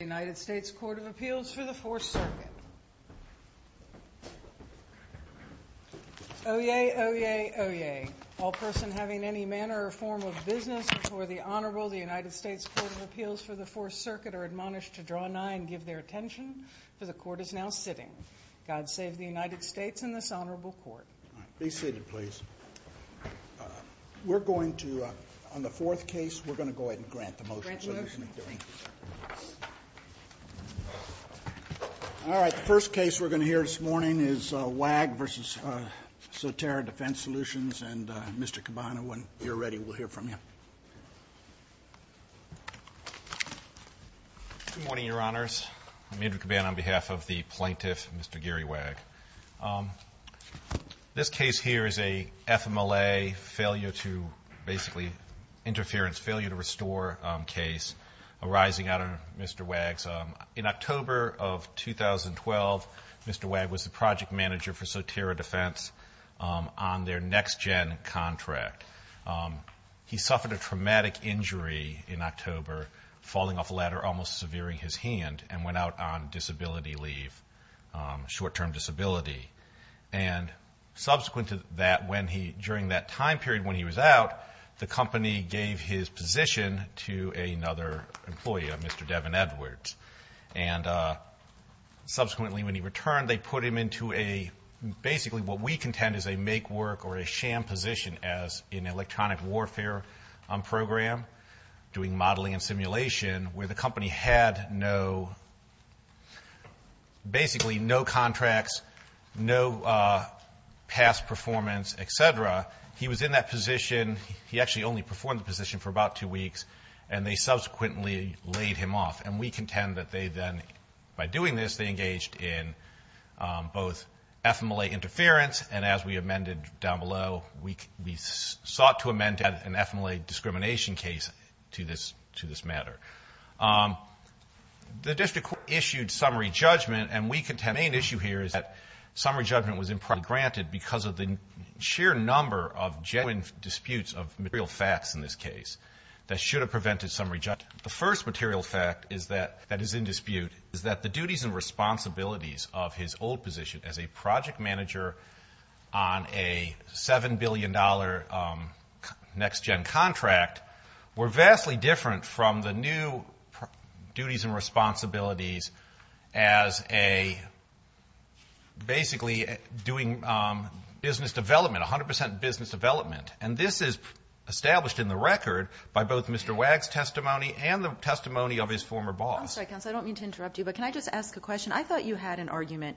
United States Court of Appeals for the Fourth Circuit. Oyez, oyez, oyez. All person having any manner or form of business before the Honorable, the United States Court of Appeals for the Fourth Circuit are admonished to draw nigh and give their attention, for the Court is now sitting. God save the United States and this Honorable Court. Be seated, please. We're going to, on the fourth case, we're going to go ahead and grant the motion. All right, the first case we're going to hear this morning is Waag v. Sotera Defense Solutions and Mr. Cabana, when you're ready, we'll hear from you. Good morning, Your Honors. I'm Andrew Cabana on behalf of the plaintiff, Mr. Gary Waag. This case here is a FMLA failure to, basically, interference failure to restore case arising out of Mr. Waag's. In October of 2012, Mr. Waag was the project manager for Sotera Defense on their NextGen contract. He suffered a traumatic injury in October, falling off a ladder, almost severing his hand, and went out on disability leave, short-term disability. And subsequent to that, when he, during that time period when he was out, the company gave his position to another employee, Mr. Devin Edwards. And subsequently, when he returned, they put him into a, basically, what we contend is a make-work or a sham position as an electronic warfare program, doing modeling and simulation, where the company had no, basically, no contracts, no past performance, et cetera. He was in that position, he actually only performed the position for about two weeks, and they subsequently laid him off. And we contend that they then, by doing this, they engaged in both FMLA interference, and as we amended down below, we sought to amend an FMLA discrimination case to this matter. The district court issued summary judgment, and we contend the main issue here is that summary judgment was improperly granted because of the sheer number of genuine disputes of material facts in this case that should have prevented summary judgment. The first material fact is that, that is in dispute, is that the duties and responsibilities of his old position as a project manager on a $7 billion next-gen contract were vastly different from the new duties and responsibilities as a, basically, doing business development, and this is established in the record by both Mr. Wagg's testimony and the testimony of his former boss. I'm sorry, counsel, I don't mean to interrupt you, but can I just ask a question? I thought you had an argument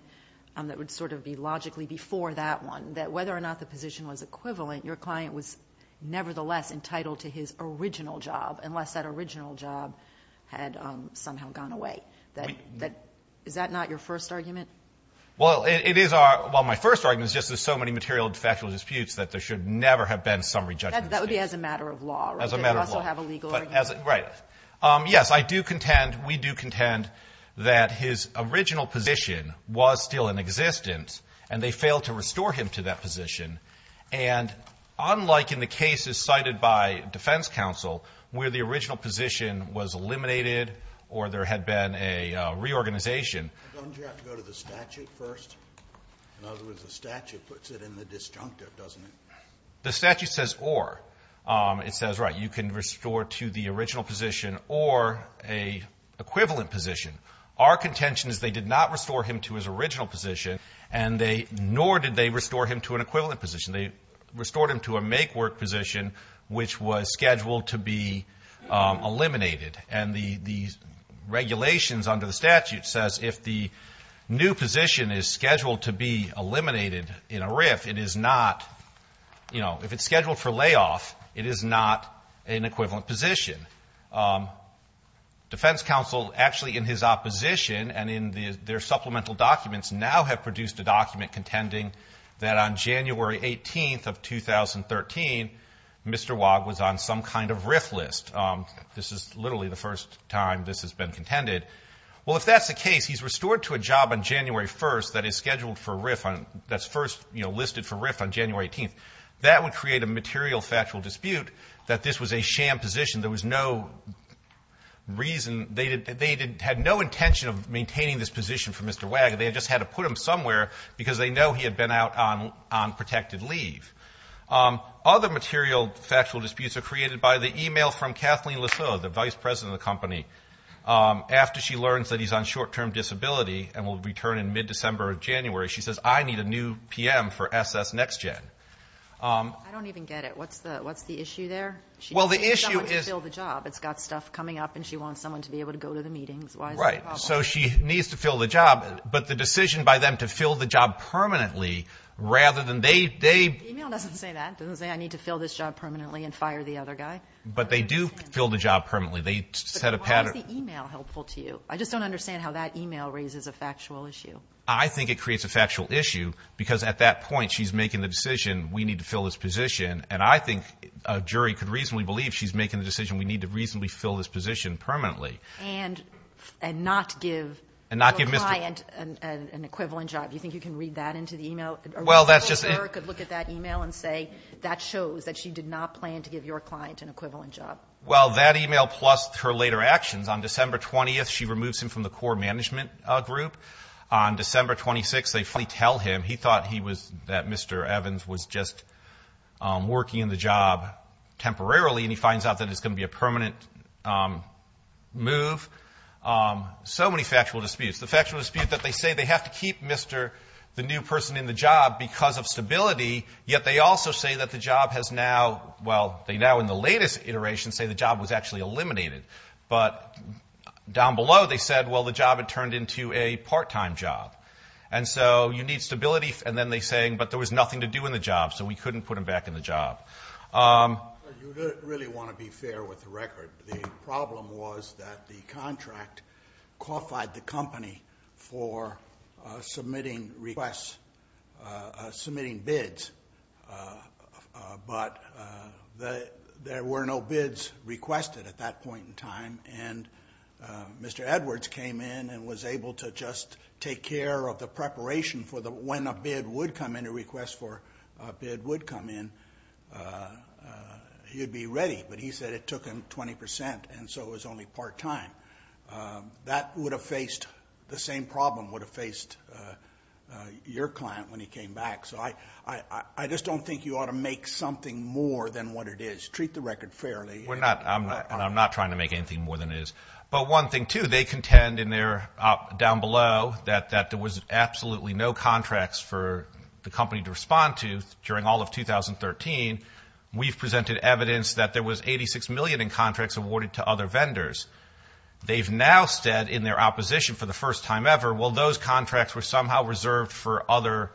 that would sort of be logically before that one, that whether or not the position was equivalent, your client was nevertheless entitled to his original job, unless that original job had somehow gone away. Is that not your first argument? Well, it is our, well, my first argument is just there's so many material and factual disputes that there should never have been summary judgment. That would be as a matter of law, right? As a matter of law. Did it also have a legal argument? Right. Yes, I do contend, we do contend that his original position was still in existence, and they failed to restore him to that position, and unlike in the cases cited by defense counsel where the original position was eliminated or there had been a reorganization Doesn't you have to go to the statute first? In other words, the statute puts it in the disjunctive, doesn't it? The statute says or. It says, right, you can restore to the original position or an equivalent position. Our contention is they did not restore him to his original position, nor did they restore him to an equivalent position. They restored him to a make-work position, which was scheduled to be eliminated, and the regulations under the statute says if the new position is scheduled to be eliminated in a RIF, it is not, you know, if it's scheduled for layoff, it is not an equivalent position. Defense counsel actually in his opposition and in their supplemental documents now have produced a document contending that on January 18th of 2013, Mr. Waugh was on some kind of RIF list. This is literally the first time this has been contended. Well, if that's the case, he's restored to a job on January 1st that is scheduled for a RIF that's first listed for a RIF on January 18th. That would create a material factual dispute that this was a sham position. There was no reason. They had no intention of maintaining this position for Mr. Waugh. They just had to put him somewhere because they know he had been out on protected leave. Other material factual disputes are created by the e-mail from Kathleen LeSueur, the vice president of the company. After she learns that he's on short-term disability and will return in mid-December or January, she says, I need a new PM for SS NextGen. I don't even get it. What's the issue there? Well, the issue is the job. It's got stuff coming up, and she wants someone to be able to go to the meetings. Why is that a problem? Right. So she needs to fill the job, but the decision by them to fill the job permanently rather than they. The e-mail doesn't say that. It doesn't say I need to fill this job permanently and fire the other guy. But they do fill the job permanently. They set a pattern. Why is the e-mail helpful to you? I just don't understand how that e-mail raises a factual issue. I think it creates a factual issue because at that point she's making the decision we need to fill this position, and I think a jury could reasonably believe she's making the decision we need to reasonably fill this position permanently. And not give your client an equivalent job. Do you think you can read that into the e-mail? Well, that's just. A reasonable juror could look at that e-mail and say that shows that she did not plan to give your client an equivalent job. Well, that e-mail plus her later actions. On December 20th, she removes him from the core management group. On December 26th, they tell him he thought he was, that Mr. Evans was just working in the job temporarily, and he finds out that it's going to be a permanent move. So many factual disputes. The factual dispute that they say they have to keep Mr. the new person in the job because of stability, yet they also say that the job has now, well, they now in the latest iteration say the job was actually eliminated. But down below they said, well, the job had turned into a part-time job. And so you need stability. And then they're saying, but there was nothing to do in the job, so we couldn't put him back in the job. You really want to be fair with the record. The problem was that the contract qualified the company for submitting requests, submitting bids, but there were no bids requested at that point in time. And Mr. Edwards came in and was able to just take care of the preparation for when a bid would come in, a request for a bid would come in. He would be ready, but he said it took him 20%, and so it was only part-time. That would have faced the same problem would have faced your client when he came back. So I just don't think you ought to make something more than what it is. Treat the record fairly. I'm not trying to make anything more than it is. But one thing, too, they contend in there down below that there was absolutely no contracts for the company to respond to during all of 2013. We've presented evidence that there was $86 million in contracts awarded to other vendors. They've now said in their opposition for the first time ever, well, those contracts were somehow reserved for other,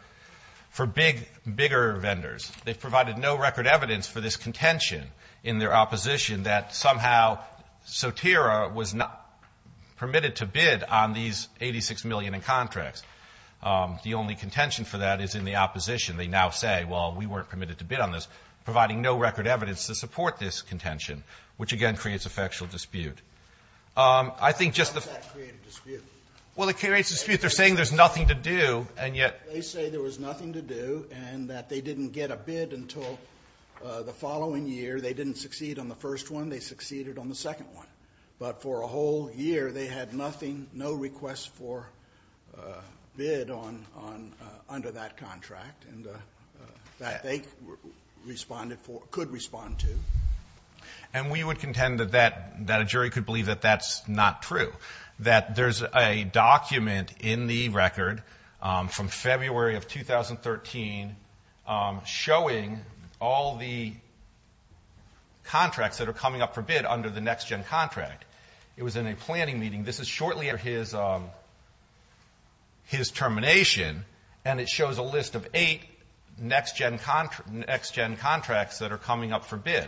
for bigger vendors. They've provided no record evidence for this contention in their opposition that somehow Sotera was permitted to bid on these $86 million in contracts. The only contention for that is in the opposition. They now say, well, we weren't permitted to bid on this, providing no record evidence to support this contention, which, again, creates a factual dispute. I think just the ---- Why does that create a dispute? Well, it creates a dispute. They're saying there's nothing to do, and yet ---- They say there was nothing to do and that they didn't get a bid until the following year. They didn't succeed on the first one. They succeeded on the second one. But for a whole year, they had nothing, no requests for bid under that contract, that they could respond to. And we would contend that a jury could believe that that's not true, that there's a document in the record from February of 2013 showing all the contracts that are coming up for bid under the next-gen contract. It was in a planning meeting. This is shortly after his termination, and it shows a list of eight next-gen contracts that are coming up for bid.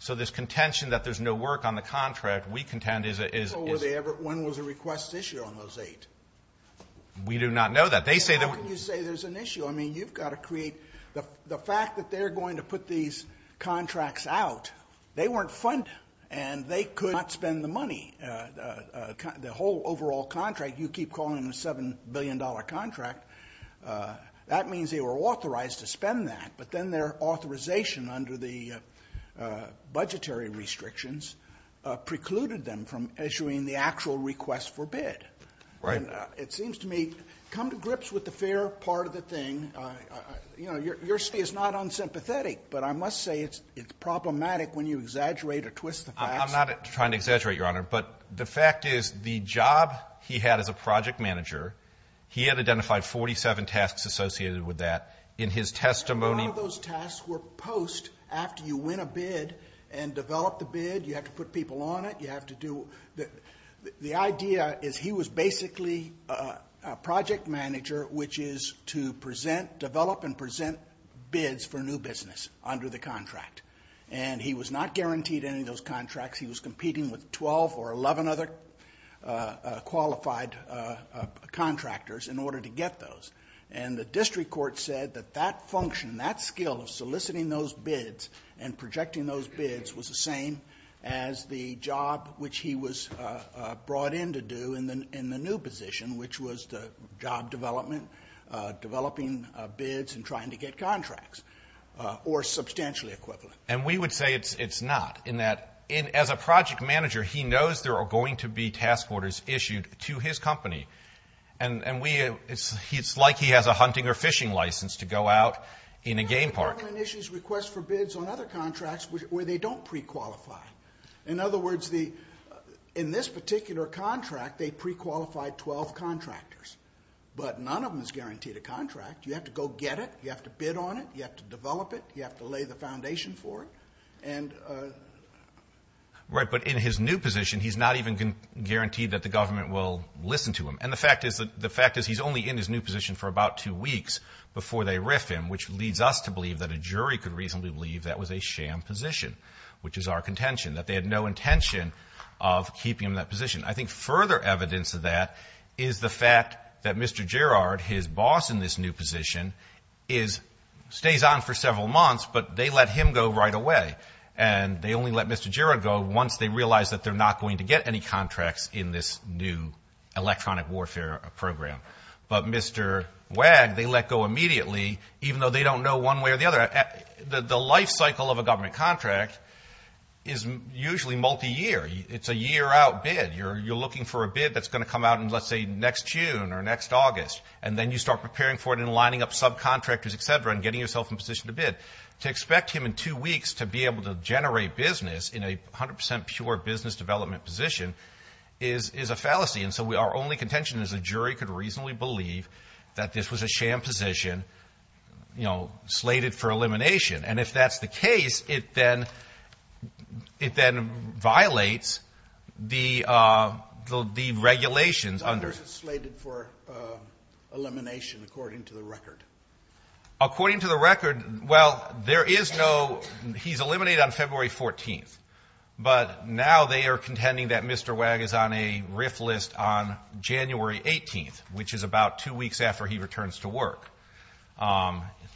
So this contention that there's no work on the contract, we contend is ---- When was a request issued on those eight? We do not know that. They say that ---- The fact that they're going to put these contracts out, they weren't funded, and they could not spend the money. The whole overall contract, you keep calling it a $7 billion contract, that means they were authorized to spend that. But then their authorization under the budgetary restrictions precluded them from issuing the actual request for bid. Right. And it seems to me, come to grips with the fair part of the thing. You know, your city is not unsympathetic, but I must say it's problematic when you exaggerate or twist the facts. I'm not trying to exaggerate, Your Honor. But the fact is the job he had as a project manager, he had identified 47 tasks associated with that. In his testimony ---- A lot of those tasks were post after you win a bid and develop the bid. You have to put people on it. The idea is he was basically a project manager, which is to develop and present bids for new business under the contract. And he was not guaranteed any of those contracts. He was competing with 12 or 11 other qualified contractors in order to get those. And the district court said that that function, that skill of soliciting those bids and projecting those bids was the same as the job which he was brought in to do in the new position, which was the job development, developing bids and trying to get contracts, or substantially equivalent. And we would say it's not in that as a project manager, he knows there are going to be task orders issued to his company. And it's like he has a hunting or fishing license to go out in a game park. The government issues requests for bids on other contracts where they don't prequalify. In other words, in this particular contract, they prequalified 12 contractors. But none of them is guaranteed a contract. You have to go get it. You have to bid on it. You have to develop it. You have to lay the foundation for it. Right, but in his new position, he's not even guaranteed that the government will listen to him. And the fact is he's only in his new position for about two weeks before they riff him, which leads us to believe that a jury could reasonably believe that was a sham position, which is our contention, that they had no intention of keeping him in that position. I think further evidence of that is the fact that Mr. Gerrard, his boss in this new position, stays on for several months, but they let him go right away. And they only let Mr. Gerrard go once they realize that they're not going to get any contracts in this new electronic warfare program. But Mr. Wagg, they let go immediately, even though they don't know one way or the other. The life cycle of a government contract is usually multi-year. It's a year-out bid. You're looking for a bid that's going to come out in, let's say, next June or next August. And then you start preparing for it and lining up subcontractors, et cetera, and getting yourself in position to bid. To expect him in two weeks to be able to generate business in a 100% pure business development position is a fallacy. And so our only contention is the jury could reasonably believe that this was a sham position, you know, slated for elimination. And if that's the case, it then violates the regulations under. How long is it slated for elimination according to the record? According to the record, well, there is no he's eliminated on February 14th. But now they are contending that Mr. Wagg is on a RIF list on January 18th, which is about two weeks after he returns to work.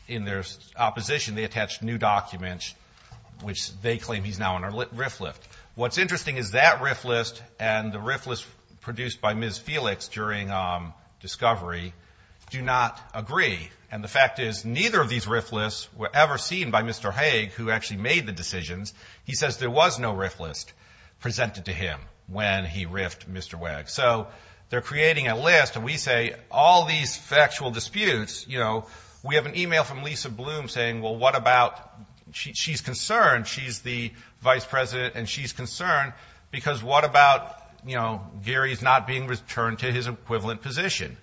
In their opposition, they attached new documents, which they claim he's now on a RIF list. What's interesting is that RIF list and the RIF list produced by Ms. Felix during discovery do not agree. And the fact is neither of these RIF lists were ever seen by Mr. Haig, who actually made the decisions. He says there was no RIF list presented to him when he RIFed Mr. Wagg. So they're creating a list, and we say all these factual disputes, you know, we have an e-mail from Lisa Bloom saying, well, what about she's concerned. She's the vice president, and she's concerned because what about, you know, Gary's not being returned to his equivalent position,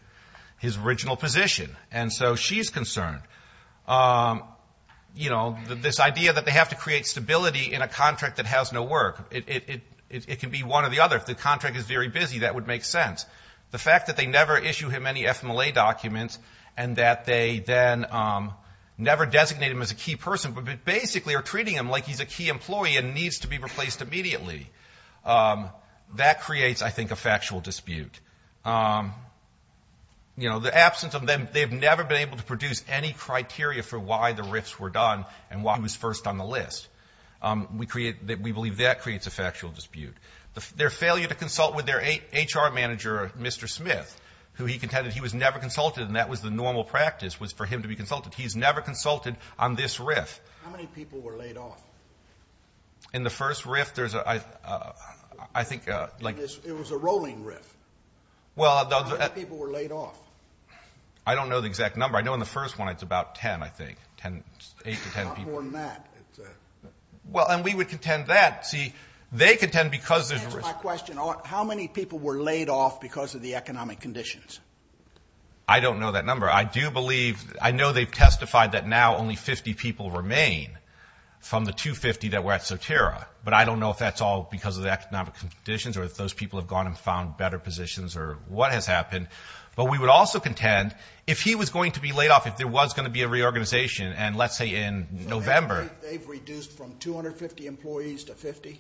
his original position. And so she's concerned. You know, this idea that they have to create stability in a contract that has no work. It can be one or the other. If the contract is very busy, that would make sense. The fact that they never issue him any FMLA documents and that they then never designate him as a key person, but basically are treating him like he's a key employee and needs to be replaced immediately. That creates, I think, a factual dispute. You know, the absence of them, they've never been able to produce any criteria for why the RIFs were done and why he was first on the list. We create, we believe that creates a factual dispute. Their failure to consult with their HR manager, Mr. Smith, who he contended he was never consulted, and that was the normal practice was for him to be consulted. He's never consulted on this RIF. How many people were laid off? In the first RIF, there's a, I think, like. It was a rolling RIF. How many people were laid off? I don't know the exact number. I know in the first one it's about 10, I think, 8 to 10 people. Not more than that. Well, and we would contend that. See, they contend because there's a risk. Answer my question. How many people were laid off because of the economic conditions? I don't know that number. I do believe, I know they've testified that now only 50 people remain from the 250 that were at Sotera, but I don't know if that's all because of the economic conditions or if those people have gone and found better positions or what has happened. But we would also contend if he was going to be laid off, if there was going to be a reorganization, and let's say in November. So they've reduced from 250 employees to 50?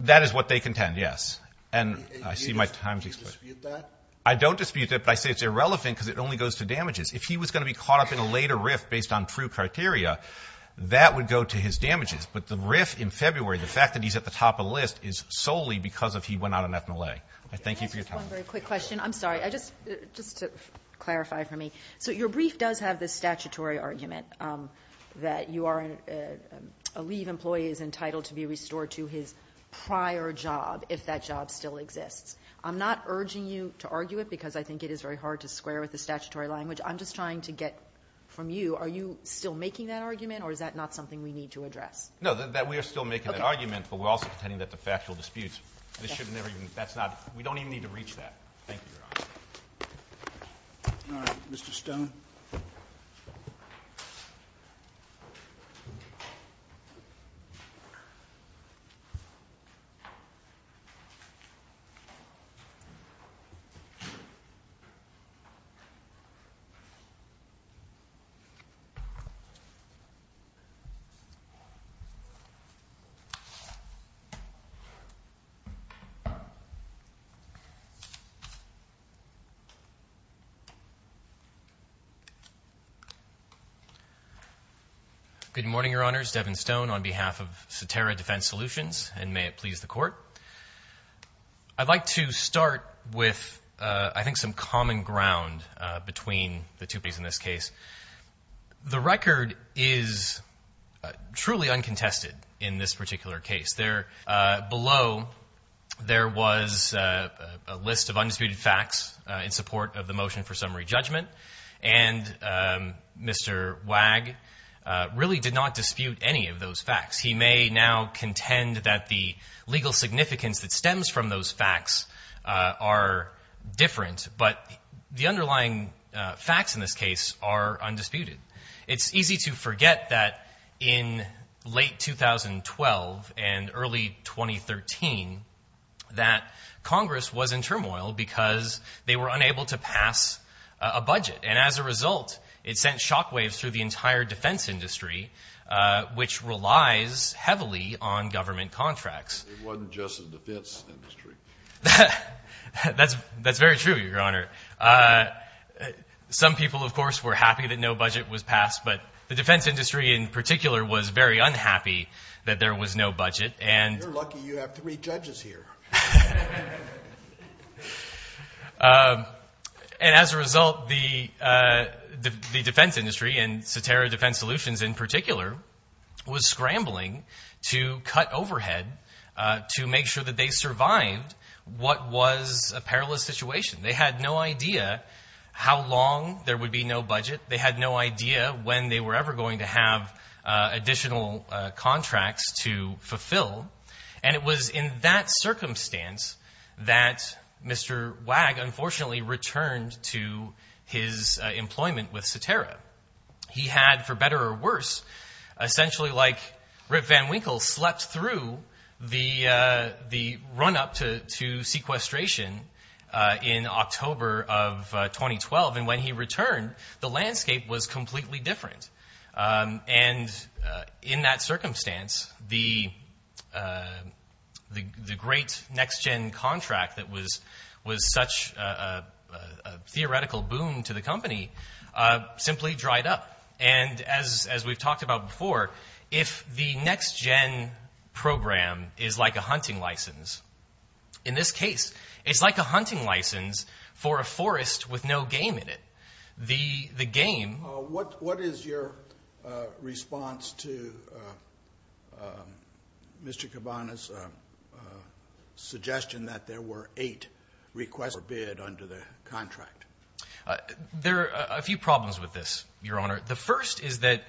That is what they contend, yes. And I see my time's expiring. Do you dispute that? I don't dispute that, but I say it's irrelevant because it only goes to damages. If he was going to be caught up in a later RIF based on true criteria, that would go to his damages. But the RIF in February, the fact that he's at the top of the list is solely because of he went out on ethanol A. I thank you for your time. Can I ask one very quick question? I'm sorry, just to clarify for me. So your brief does have this statutory argument that you are, a leave employee is entitled to be restored to his prior job if that job still exists. I'm not urging you to argue it because I think it is very hard to square with the statutory language. I'm just trying to get from you, are you still making that argument or is that not something we need to address? No, we are still making that argument, but we're also contending that the factual disputes, we don't even need to reach that. Thank you, Your Honor. All right, Mr. Stone. Good morning, Your Honors. Devin Stone on behalf of Saterra Defense Solutions, and may it please the Court. I'd like to start with, I think, some common ground between the two cases in this case. The record is truly uncontested in this particular case. Below, there was a list of undisputed facts in support of the motion for summary judgment, and Mr. Wagg really did not dispute any of those facts. He may now contend that the legal significance that stems from those facts are different, but the underlying facts in this case are undisputed. It's easy to forget that in late 2012 and early 2013, that Congress was in turmoil because they were unable to pass a budget, and as a result, it sent shockwaves through the entire defense industry, which relies heavily on government contracts. It wasn't just the defense industry. That's very true, Your Honor. Some people, of course, were happy that no budget was passed, but the defense industry in particular was very unhappy that there was no budget. You're lucky you have three judges here. And as a result, the defense industry, and Satara Defense Solutions in particular, was scrambling to cut overhead to make sure that they survived what was a perilous situation. They had no idea how long there would be no budget. They had no idea when they were ever going to have additional contracts to fulfill, and it was in that circumstance that Mr. Wag unfortunately returned to his employment with Satara. He had, for better or worse, essentially like Rip Van Winkle, slept through the run-up to sequestration in October of 2012, and when he returned, the landscape was completely different. And in that circumstance, the great next-gen contract that was such a theoretical boon to the company simply dried up. And as we've talked about before, if the next-gen program is like a hunting license, in this case, it's like a hunting license for a forest with no game in it. What is your response to Mr. Cabana's suggestion that there were eight requests for bid under the contract? There are a few problems with this, Your Honor. The first is that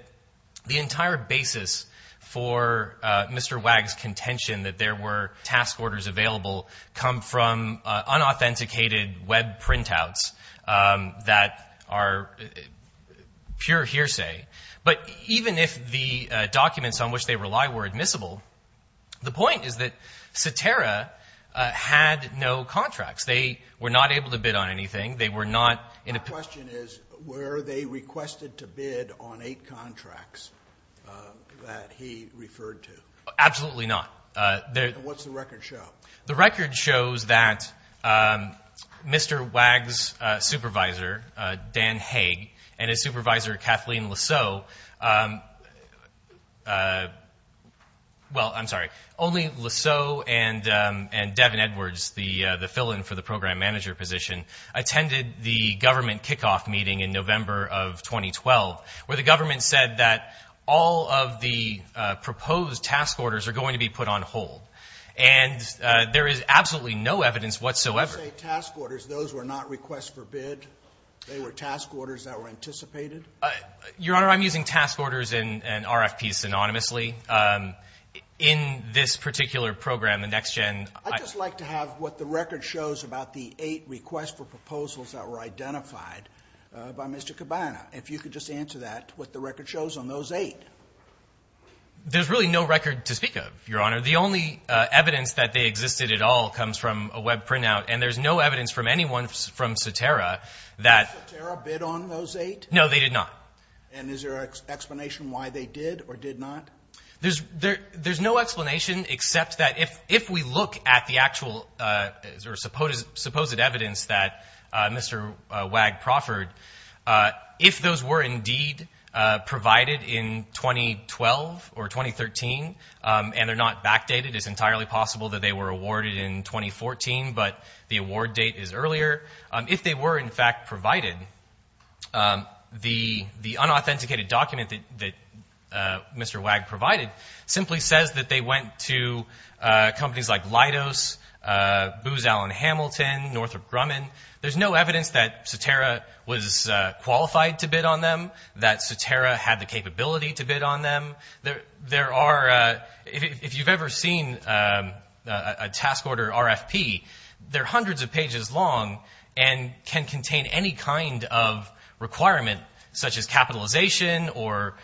the entire basis for Mr. Wag's contention that there were task orders available come from unauthenticated web printouts that are pure hearsay. But even if the documents on which they rely were admissible, the point is that Satara had no contracts. They were not able to bid on anything. They were not in a— My question is, were they requested to bid on eight contracts that he referred to? Absolutely not. And what's the record show? The record shows that Mr. Wag's supervisor, Dan Haig, and his supervisor, Kathleen Lasseau— well, I'm sorry, only Lasseau and Devin Edwards, the fill-in for the program manager position, attended the government kickoff meeting in November of 2012, where the government said that all of the proposed task orders are going to be put on hold. And there is absolutely no evidence whatsoever— When you say task orders, those were not requests for bid? They were task orders that were anticipated? Your Honor, I'm using task orders and RFPs synonymously. In this particular program, the NextGen— I'd just like to have what the record shows about the eight requests for proposals that were identified by Mr. Cabana. If you could just answer that, what the record shows on those eight. There's really no record to speak of, Your Honor. The only evidence that they existed at all comes from a web printout, and there's no evidence from anyone from Satara that— Did Satara bid on those eight? No, they did not. And is there an explanation why they did or did not? There's no explanation except that if we look at the actual or supposed evidence that Mr. Wag proffered, if those were indeed provided in 2012 or 2013, and they're not backdated, it's entirely possible that they were awarded in 2014, but the award date is earlier. If they were in fact provided, the unauthenticated document that Mr. Wag provided simply says that they went to companies like Leidos, Booz Allen Hamilton, Northrop Grumman. There's no evidence that Satara was qualified to bid on them, that Satara had the capability to bid on them. There are—if you've ever seen a task order RFP, they're hundreds of pages long and can contain any kind of requirement such as capitalization or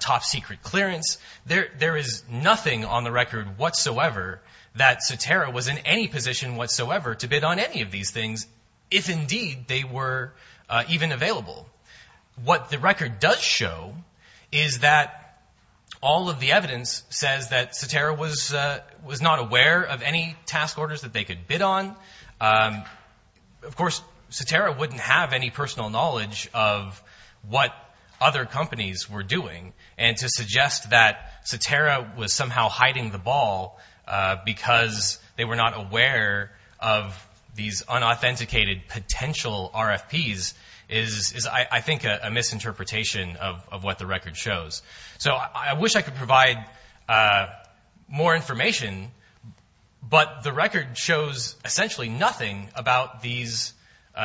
top secret clearance. There is nothing on the record whatsoever that Satara was in any position whatsoever to bid on any of these things, if indeed they were even available. What the record does show is that all of the evidence says that Satara was not aware of any task orders that they could bid on. Of course, Satara wouldn't have any personal knowledge of what other companies were doing, and to suggest that Satara was somehow hiding the ball because they were not aware of these unauthenticated potential RFPs is, I think, a misinterpretation of what the record shows. I wish I could provide more information, but the record shows essentially nothing about these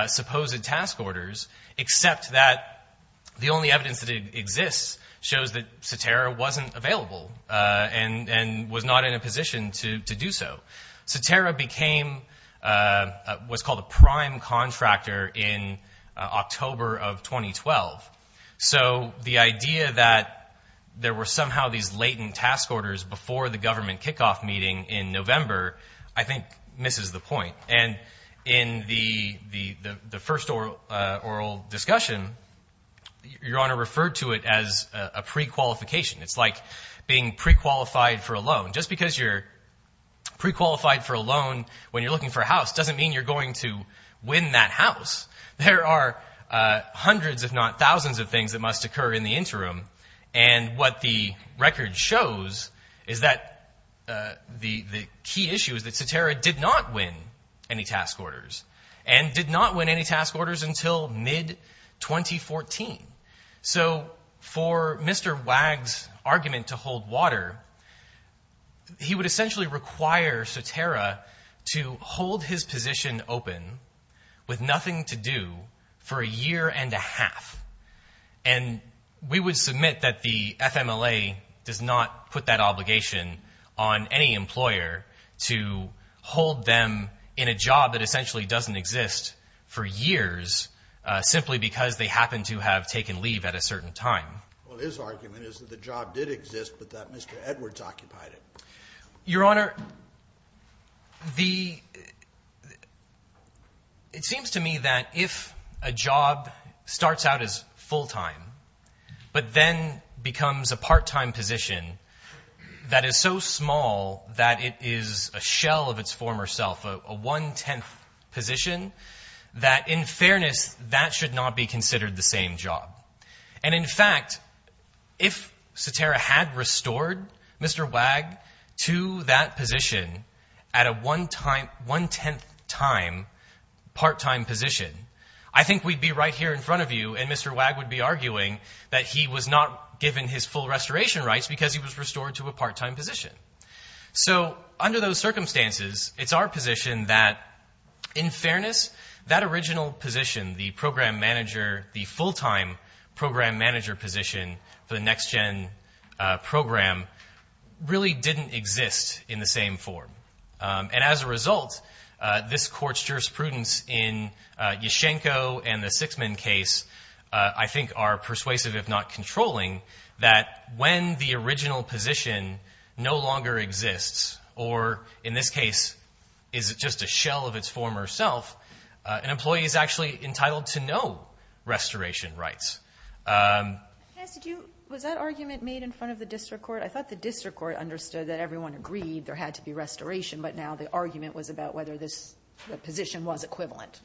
supposed task orders, except that the only evidence that exists shows that Satara wasn't available and was not in a position to do so. Satara became what's called a prime contractor in October of 2012. So the idea that there were somehow these latent task orders before the government kickoff meeting in November, I think, misses the point. And in the first oral discussion, Your Honor referred to it as a prequalification. It's like being prequalified for a loan. Just because you're prequalified for a loan when you're looking for a house doesn't mean you're going to win that house. There are hundreds, if not thousands, of things that must occur in the interim, and what the record shows is that the key issue is that Satara did not win any task orders, and did not win any task orders until mid-2014. So for Mr. Wagg's argument to hold water, he would essentially require Satara to hold his position open with nothing to do for a year and a half. And we would submit that the FMLA does not put that obligation on any employer to hold them in a job that essentially doesn't exist for years, simply because they happen to have taken leave at a certain time. Well, his argument is that the job did exist, but that Mr. Edwards occupied it. Your Honor, it seems to me that if a job starts out as full-time, but then becomes a part-time position that is so small that it is a shell of its former self, a one-tenth position, that in fairness, that should not be considered the same job. And in fact, if Satara had restored Mr. Wagg to that position at a one-tenth time part-time position, I think we'd be right here in front of you and Mr. Wagg would be arguing that he was not given his full restoration rights because he was restored to a part-time position. So, under those circumstances, it's our position that, in fairness, that original position, the program manager, the full-time program manager position for the NextGen program, really didn't exist in the same form. And as a result, this Court's jurisprudence in Yashchenko and the Sixman case, I think, are persuasive, if not controlling, that when the original position no longer exists or, in this case, is just a shell of its former self, an employee is actually entitled to no restoration rights. Was that argument made in front of the district court? I thought the district court understood that everyone agreed there had to be restoration, but now the argument was about whether this position was equivalent.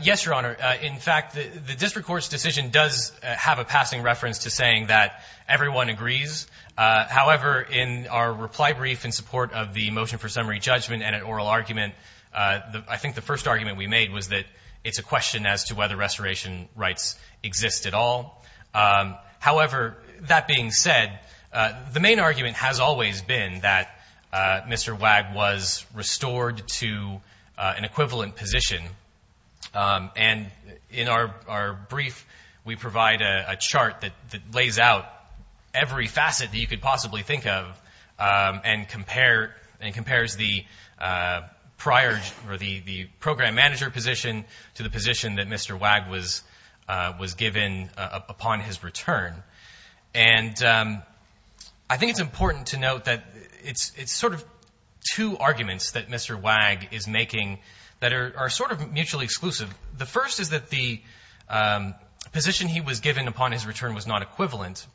Yes, Your Honor. In fact, the district court's decision does have a passing reference to saying that everyone agrees. However, in our reply brief in support of the motion for summary judgment and an oral argument, I think the first argument we made was that it's a question as to whether restoration rights exist at all. However, that being said, the main argument has always been that Mr. Wagg was restored to an equivalent position. And in our brief, we provide a chart that lays out every facet that you could possibly think of and compares the prior or the program manager position to the position that Mr. Wagg was given upon his return. And I think it's important to note that it's sort of two arguments that Mr. Wagg is making that are sort of mutually exclusive. The first is that the position he was given upon his return was not equivalent.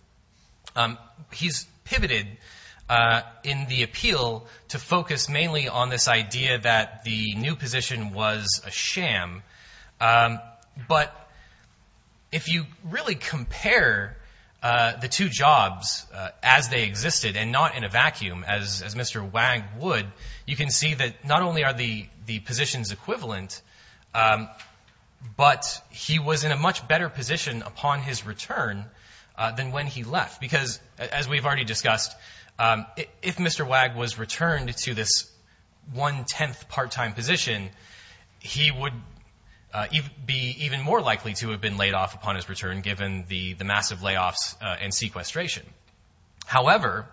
He's pivoted in the appeal to focus mainly on this idea that the new position was a sham. But if you really compare the two jobs as they existed and not in a vacuum, as Mr. Wagg would, you can see that not only are the positions equivalent, but he was in a much better position upon his return than when he left. Because as we've already discussed, if Mr. Wagg was returned to this one-tenth part-time position, he would be even more likely to have been laid off upon his return given the massive layoffs and sequestration. However,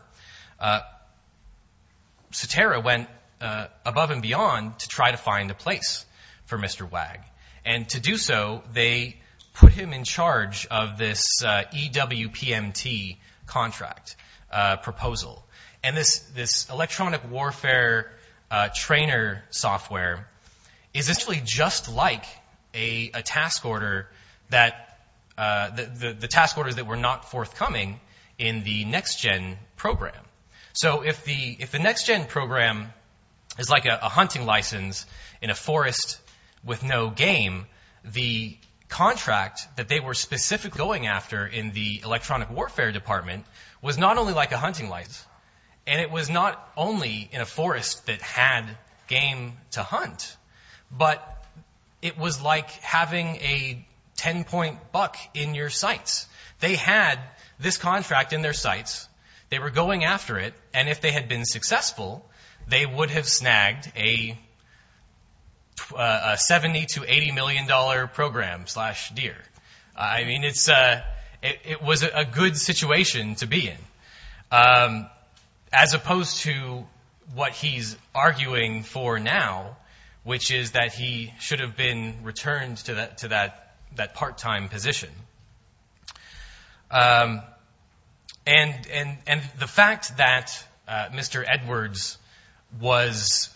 Satara went above and beyond to try to find a place for Mr. Wagg. And to do so, they put him in charge of this EWPMT contract proposal. And this electronic warfare trainer software is actually just like a task order that the task orders that were not forthcoming in the NextGen program. So if the NextGen program is like a hunting license in a forest with no game, the contract that they were specifically going after in the electronic warfare department was not only like a hunting license, and it was not only in a forest that had game to hunt, but it was like having a 10-point buck in your sights. They had this contract in their sights, they were going after it, and if they had been successful, they would have snagged a $70 to $80 million program slash deer. I mean, it was a good situation to be in. As opposed to what he's arguing for now, which is that he should have been returned to that part-time position. And the fact that Mr. Edwards was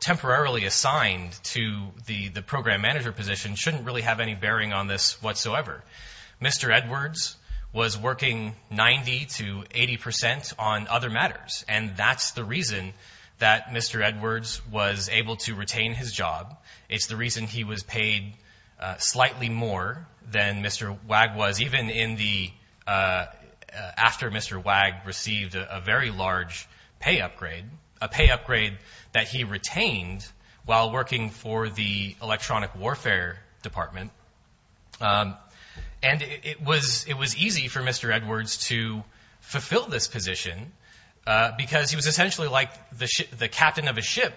temporarily assigned to the program manager position shouldn't really have any bearing on this whatsoever. Mr. Edwards was working 90 to 80 percent on other matters, and that's the reason that Mr. Edwards was able to retain his job. It's the reason he was paid slightly more than Mr. Wag was, even after Mr. Wag received a very large pay upgrade, a pay upgrade that he retained while working for the electronic warfare department. And it was easy for Mr. Edwards to fulfill this position, because he was essentially like the captain of a ship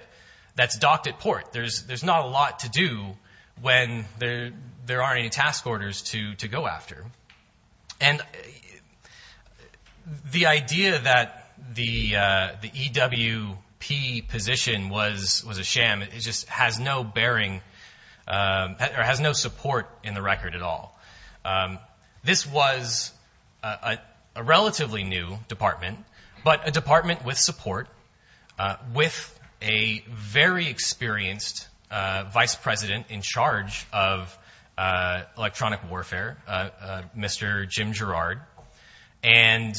that's docked at port. There's not a lot to do when there aren't any task orders to go after. And the idea that the EWP position was a sham just has no bearing or has no support in the record at all. This was a relatively new department, but a department with support, with a very experienced vice president in charge of electronic warfare, Mr. Jim Gerard. And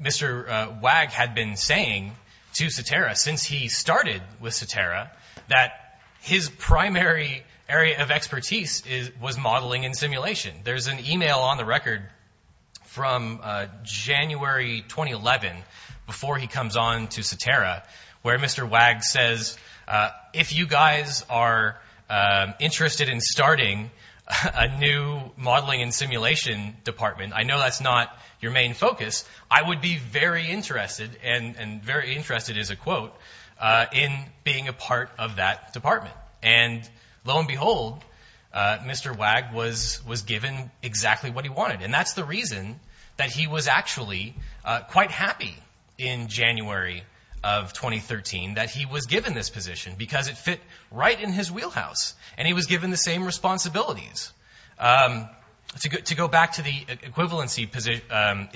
Mr. Wag had been saying to Satara, since he started with Satara, that his primary area of expertise was modeling and simulation. There's an email on the record from January 2011, before he comes on to Satara, where Mr. Wag says, if you guys are interested in starting a new modeling and simulation department, I know that's not your main focus. I would be very interested, and very interested is a quote, in being a part of that department. And lo and behold, Mr. Wag was given exactly what he wanted. And that's the reason that he was actually quite happy in January of 2013 that he was given this position, because it fit right in his wheelhouse, and he was given the same responsibilities. To go back to the equivalency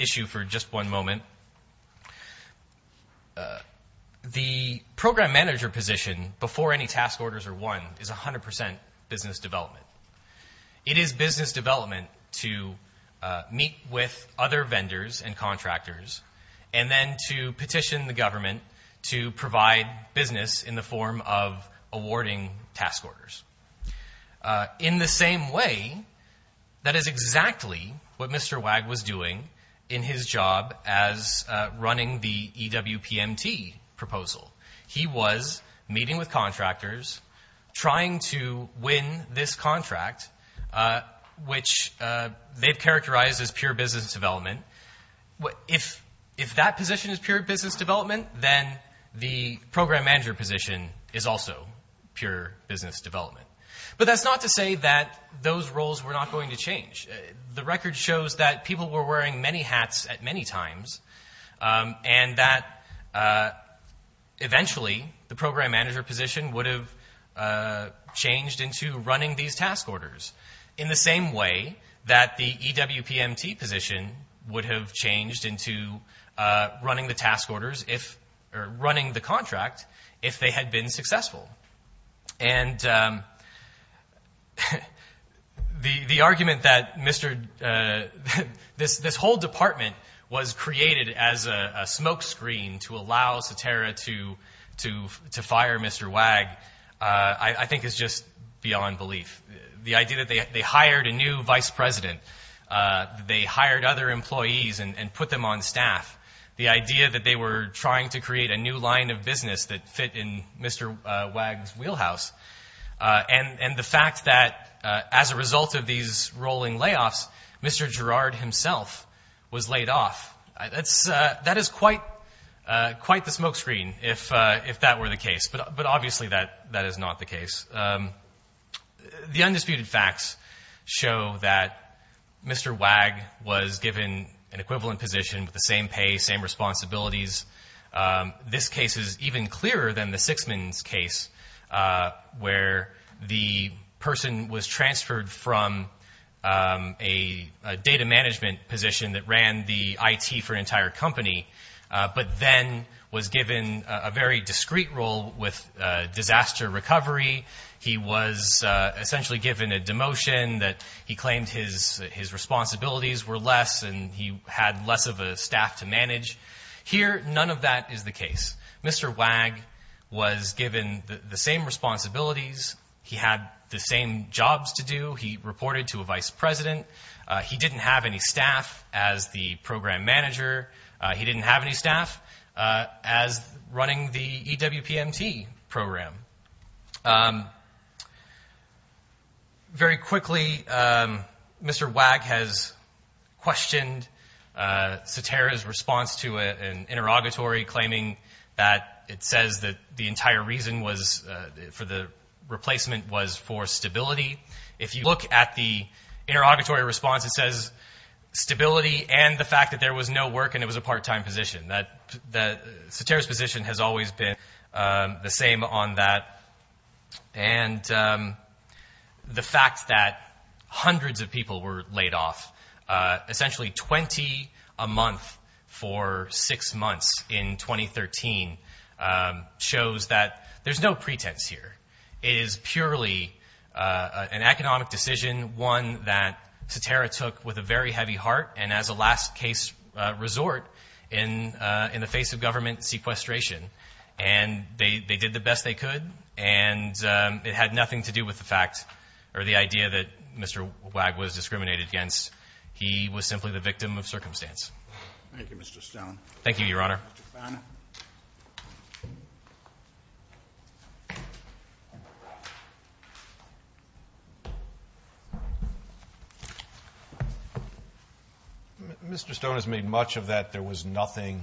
issue for just one moment, the program manager position, before any task orders are won, is 100% business development. It is business development to meet with other vendors and contractors, and then to petition the government to provide business in the form of awarding task orders. In the same way, that is exactly what Mr. Wag was doing in his job as running the EWPMT proposal. He was meeting with contractors, trying to win this contract, which they've characterized as pure business development. If that position is pure business development, then the program manager position is also pure business development. But that's not to say that those roles were not going to change. The record shows that people were wearing many hats at many times, and that eventually the program manager position would have changed into running these task orders. In the same way that the EWPMT position would have changed into running the contract if they had been successful. The argument that this whole department was created as a smokescreen to allow Satara to fire Mr. Wag, I think is just beyond belief. The idea that they hired a new vice president, they hired other employees and put them on staff. The idea that they were trying to create a new line of business that fit in Mr. Wag's wheelhouse. And the fact that as a result of these rolling layoffs, Mr. Girard himself was laid off. That is quite the smokescreen, if that were the case. But obviously that is not the case. The undisputed facts show that Mr. Wag was given an equivalent position with the same pay, same responsibilities. This case is even clearer than the Sixman's case, where the person was transferred from a data management position that ran the IT for an entire company. But then was given a very discreet role with disaster recovery. He was essentially given a demotion that he claimed his responsibilities were less and he had less of a staff to manage. Here, none of that is the case. Mr. Wag was given the same responsibilities. He had the same jobs to do. He reported to a vice president. He didn't have any staff as the program manager. He didn't have any staff as running the EWPMT program. Very quickly, Mr. Wag has questioned Satara's response to an interrogatory, claiming that it says that the entire reason for the replacement was for stability. If you look at the interrogatory response, it says stability and the fact that there was no work and it was a part-time position. Satara's position has always been the same on that. And the fact that hundreds of people were laid off, essentially 20 a month for six months in 2013, shows that there's no pretense here. It is purely an economic decision, one that Satara took with a very heavy heart, and as a last case resort in the face of government sequestration. And they did the best they could. And it had nothing to do with the fact or the idea that Mr. Wag was discriminated against. He was simply the victim of circumstance. Thank you, Mr. Stone. Thank you, Your Honor. Mr. Fano. Mr. Stone has made much of that there was nothing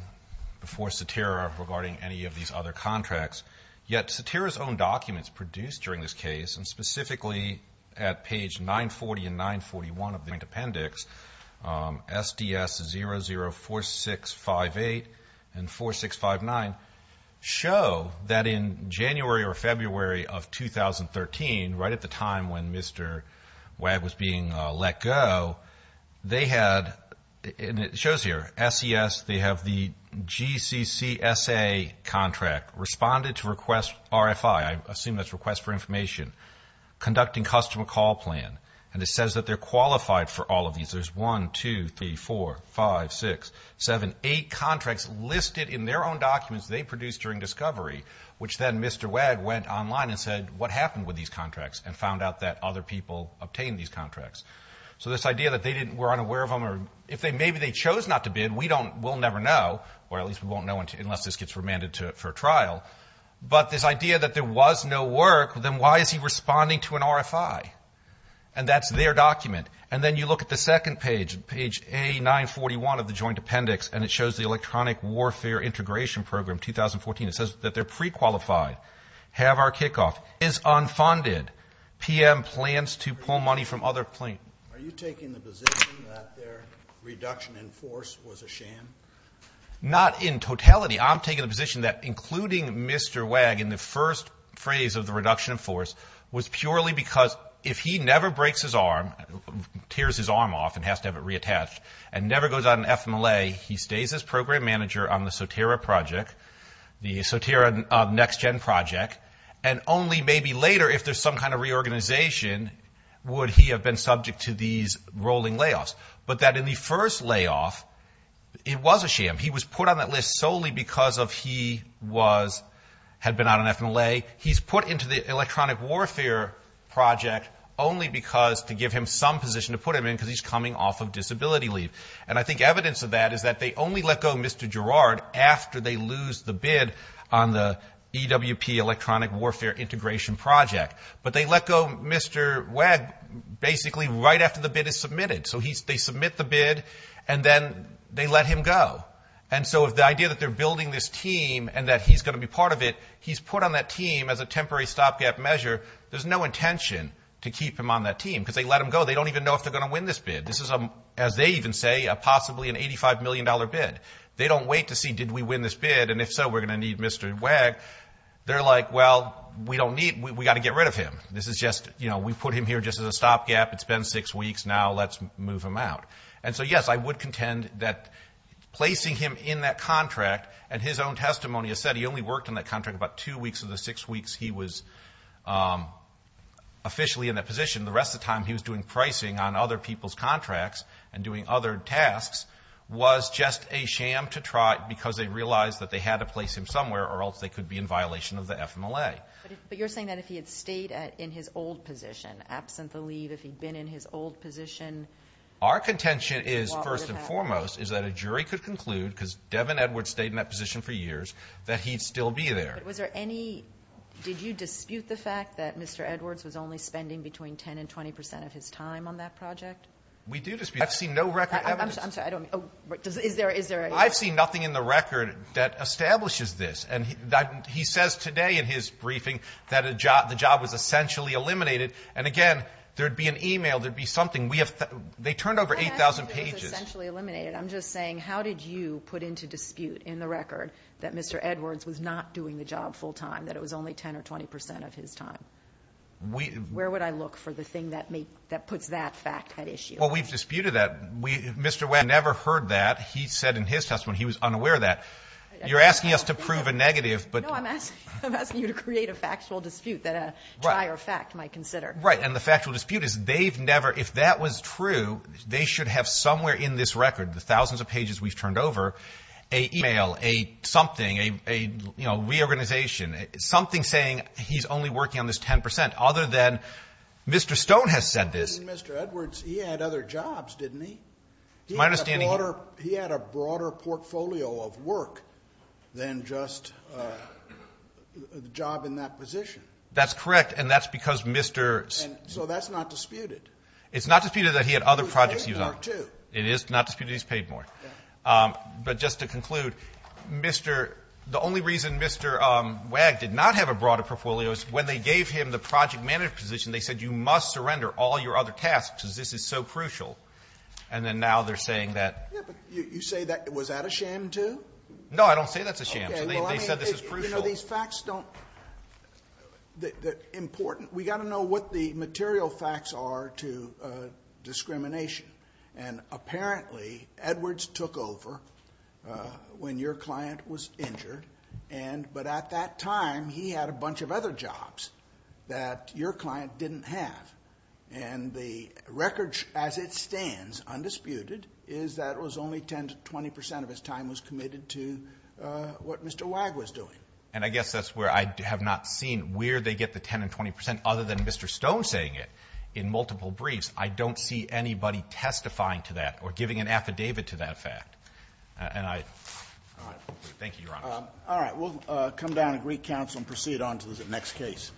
before Satara regarding any of these other contracts. Yet Satara's own documents produced during this case, and specifically at page 940 and 941 of the appendix, SDS004658 and 4659, show that in January or February of 2013, right at the time when Mr. Wag was being let go, they had, and it shows here, SES, they have the GCCSA contract, responded to request RFI, I assume that's request for information, conducting customer call plan, and it says that they're qualified for all of these. There's 1, 2, 3, 4, 5, 6, 7, 8 contracts listed in their own documents they produced during discovery, which then Mr. Wag went online and said, what happened with these contracts, and found out that other people obtained these contracts. So this idea that they were unaware of them, or if maybe they chose not to bid, we'll never know, or at least we won't know unless this gets remanded for trial. But this idea that there was no work, then why is he responding to an RFI? And that's their document. And then you look at the second page, page A941 of the joint appendix, and it shows the electronic warfare integration program, 2014. It says that they're prequalified, have our kickoff, is unfunded, PM plans to pull money from other plaintiffs. Are you taking the position that their reduction in force was a sham? Not in totality. I'm taking the position that including Mr. Wag in the first phrase of the reduction in force was purely because if he never breaks his arm, tears his arm off and has to have it reattached, and never goes out on FMLA, he stays as program manager on the SOTERRA project, the SOTERRA next-gen project, and only maybe later, if there's some kind of reorganization, would he have been subject to these rolling layoffs. But that in the first layoff, it was a sham. He was put on that list solely because he had been out on FMLA. He's put into the electronic warfare project only because to give him some position to put him in because he's coming off of disability leave. And I think evidence of that is that they only let go of Mr. Gerard after they lose the bid on the EWP electronic warfare integration project. But they let go of Mr. Wag basically right after the bid is submitted. So they submit the bid, and then they let him go. And so the idea that they're building this team and that he's going to be part of it, he's put on that team as a temporary stopgap measure. There's no intention to keep him on that team because they let him go. They don't even know if they're going to win this bid. This is, as they even say, possibly an $85 million bid. They don't wait to see, did we win this bid, and if so, we're going to need Mr. Wag. They're like, well, we don't need him. We've got to get rid of him. This is just, you know, we put him here just as a stopgap. It's been six weeks. Now let's move him out. And so, yes, I would contend that placing him in that contract, and his own testimony has said he only worked in that contract about two weeks of the six weeks he was officially in that position. The rest of the time he was doing pricing on other people's contracts and doing other tasks was just a sham to try because they realized that they had to place him somewhere or else they could be in violation of the FMLA. But you're saying that if he had stayed in his old position, absent the leave, if he'd been in his old position. Our contention is, first and foremost, is that a jury could conclude because Devin Edwards stayed in that position for years, that he'd still be there. But was there any, did you dispute the fact that Mr. Edwards was only spending between 10 and 20 percent of his time on that project? We do dispute. I've seen no record evidence. I'm sorry, I don't, is there a... I've seen nothing in the record that establishes this. And he says today in his briefing that the job was essentially eliminated. And, again, there'd be an e-mail, there'd be something. We have, they turned over 8,000 pages. It's essentially eliminated. I'm just saying how did you put into dispute in the record that Mr. Edwards was not doing the job full time, that it was only 10 or 20 percent of his time? Where would I look for the thing that puts that fact at issue? Well, we've disputed that. Mr. Webb never heard that. He said in his testimony he was unaware of that. You're asking us to prove a negative, but... Right, and the factual dispute is they've never... If that was true, they should have somewhere in this record, the thousands of pages we've turned over, a e-mail, a something, a reorganization, something saying he's only working on this 10 percent, other than Mr. Stone has said this. Mr. Edwards, he had other jobs, didn't he? My understanding... He had a broader portfolio of work than just a job in that position. That's correct, and that's because Mr.... So that's not disputed. It's not disputed that he had other projects he was on. He was paid more, too. It is not disputed he was paid more. But just to conclude, Mr.... The only reason Mr. Wag did not have a broader portfolio is when they gave him the project manager position, they said you must surrender all your other tasks because this is so crucial. And then now they're saying that... Yeah, but you say that... Was that a sham, too? No, I don't say that's a sham. Okay, well, I mean... They said this is crucial. But, you know, these facts don't... They're important. We've got to know what the material facts are to discrimination. And apparently Edwards took over when your client was injured, but at that time he had a bunch of other jobs that your client didn't have. And the record as it stands, undisputed, is that it was only 10 to 20 percent of his time was committed to what Mr. Wag was doing. And I guess that's where I have not seen where they get the 10 and 20 percent, other than Mr. Stone saying it in multiple briefs. I don't see anybody testifying to that or giving an affidavit to that fact. And I... All right. Thank you, Your Honor. All right, we'll come down and recounsel and proceed on to the next case.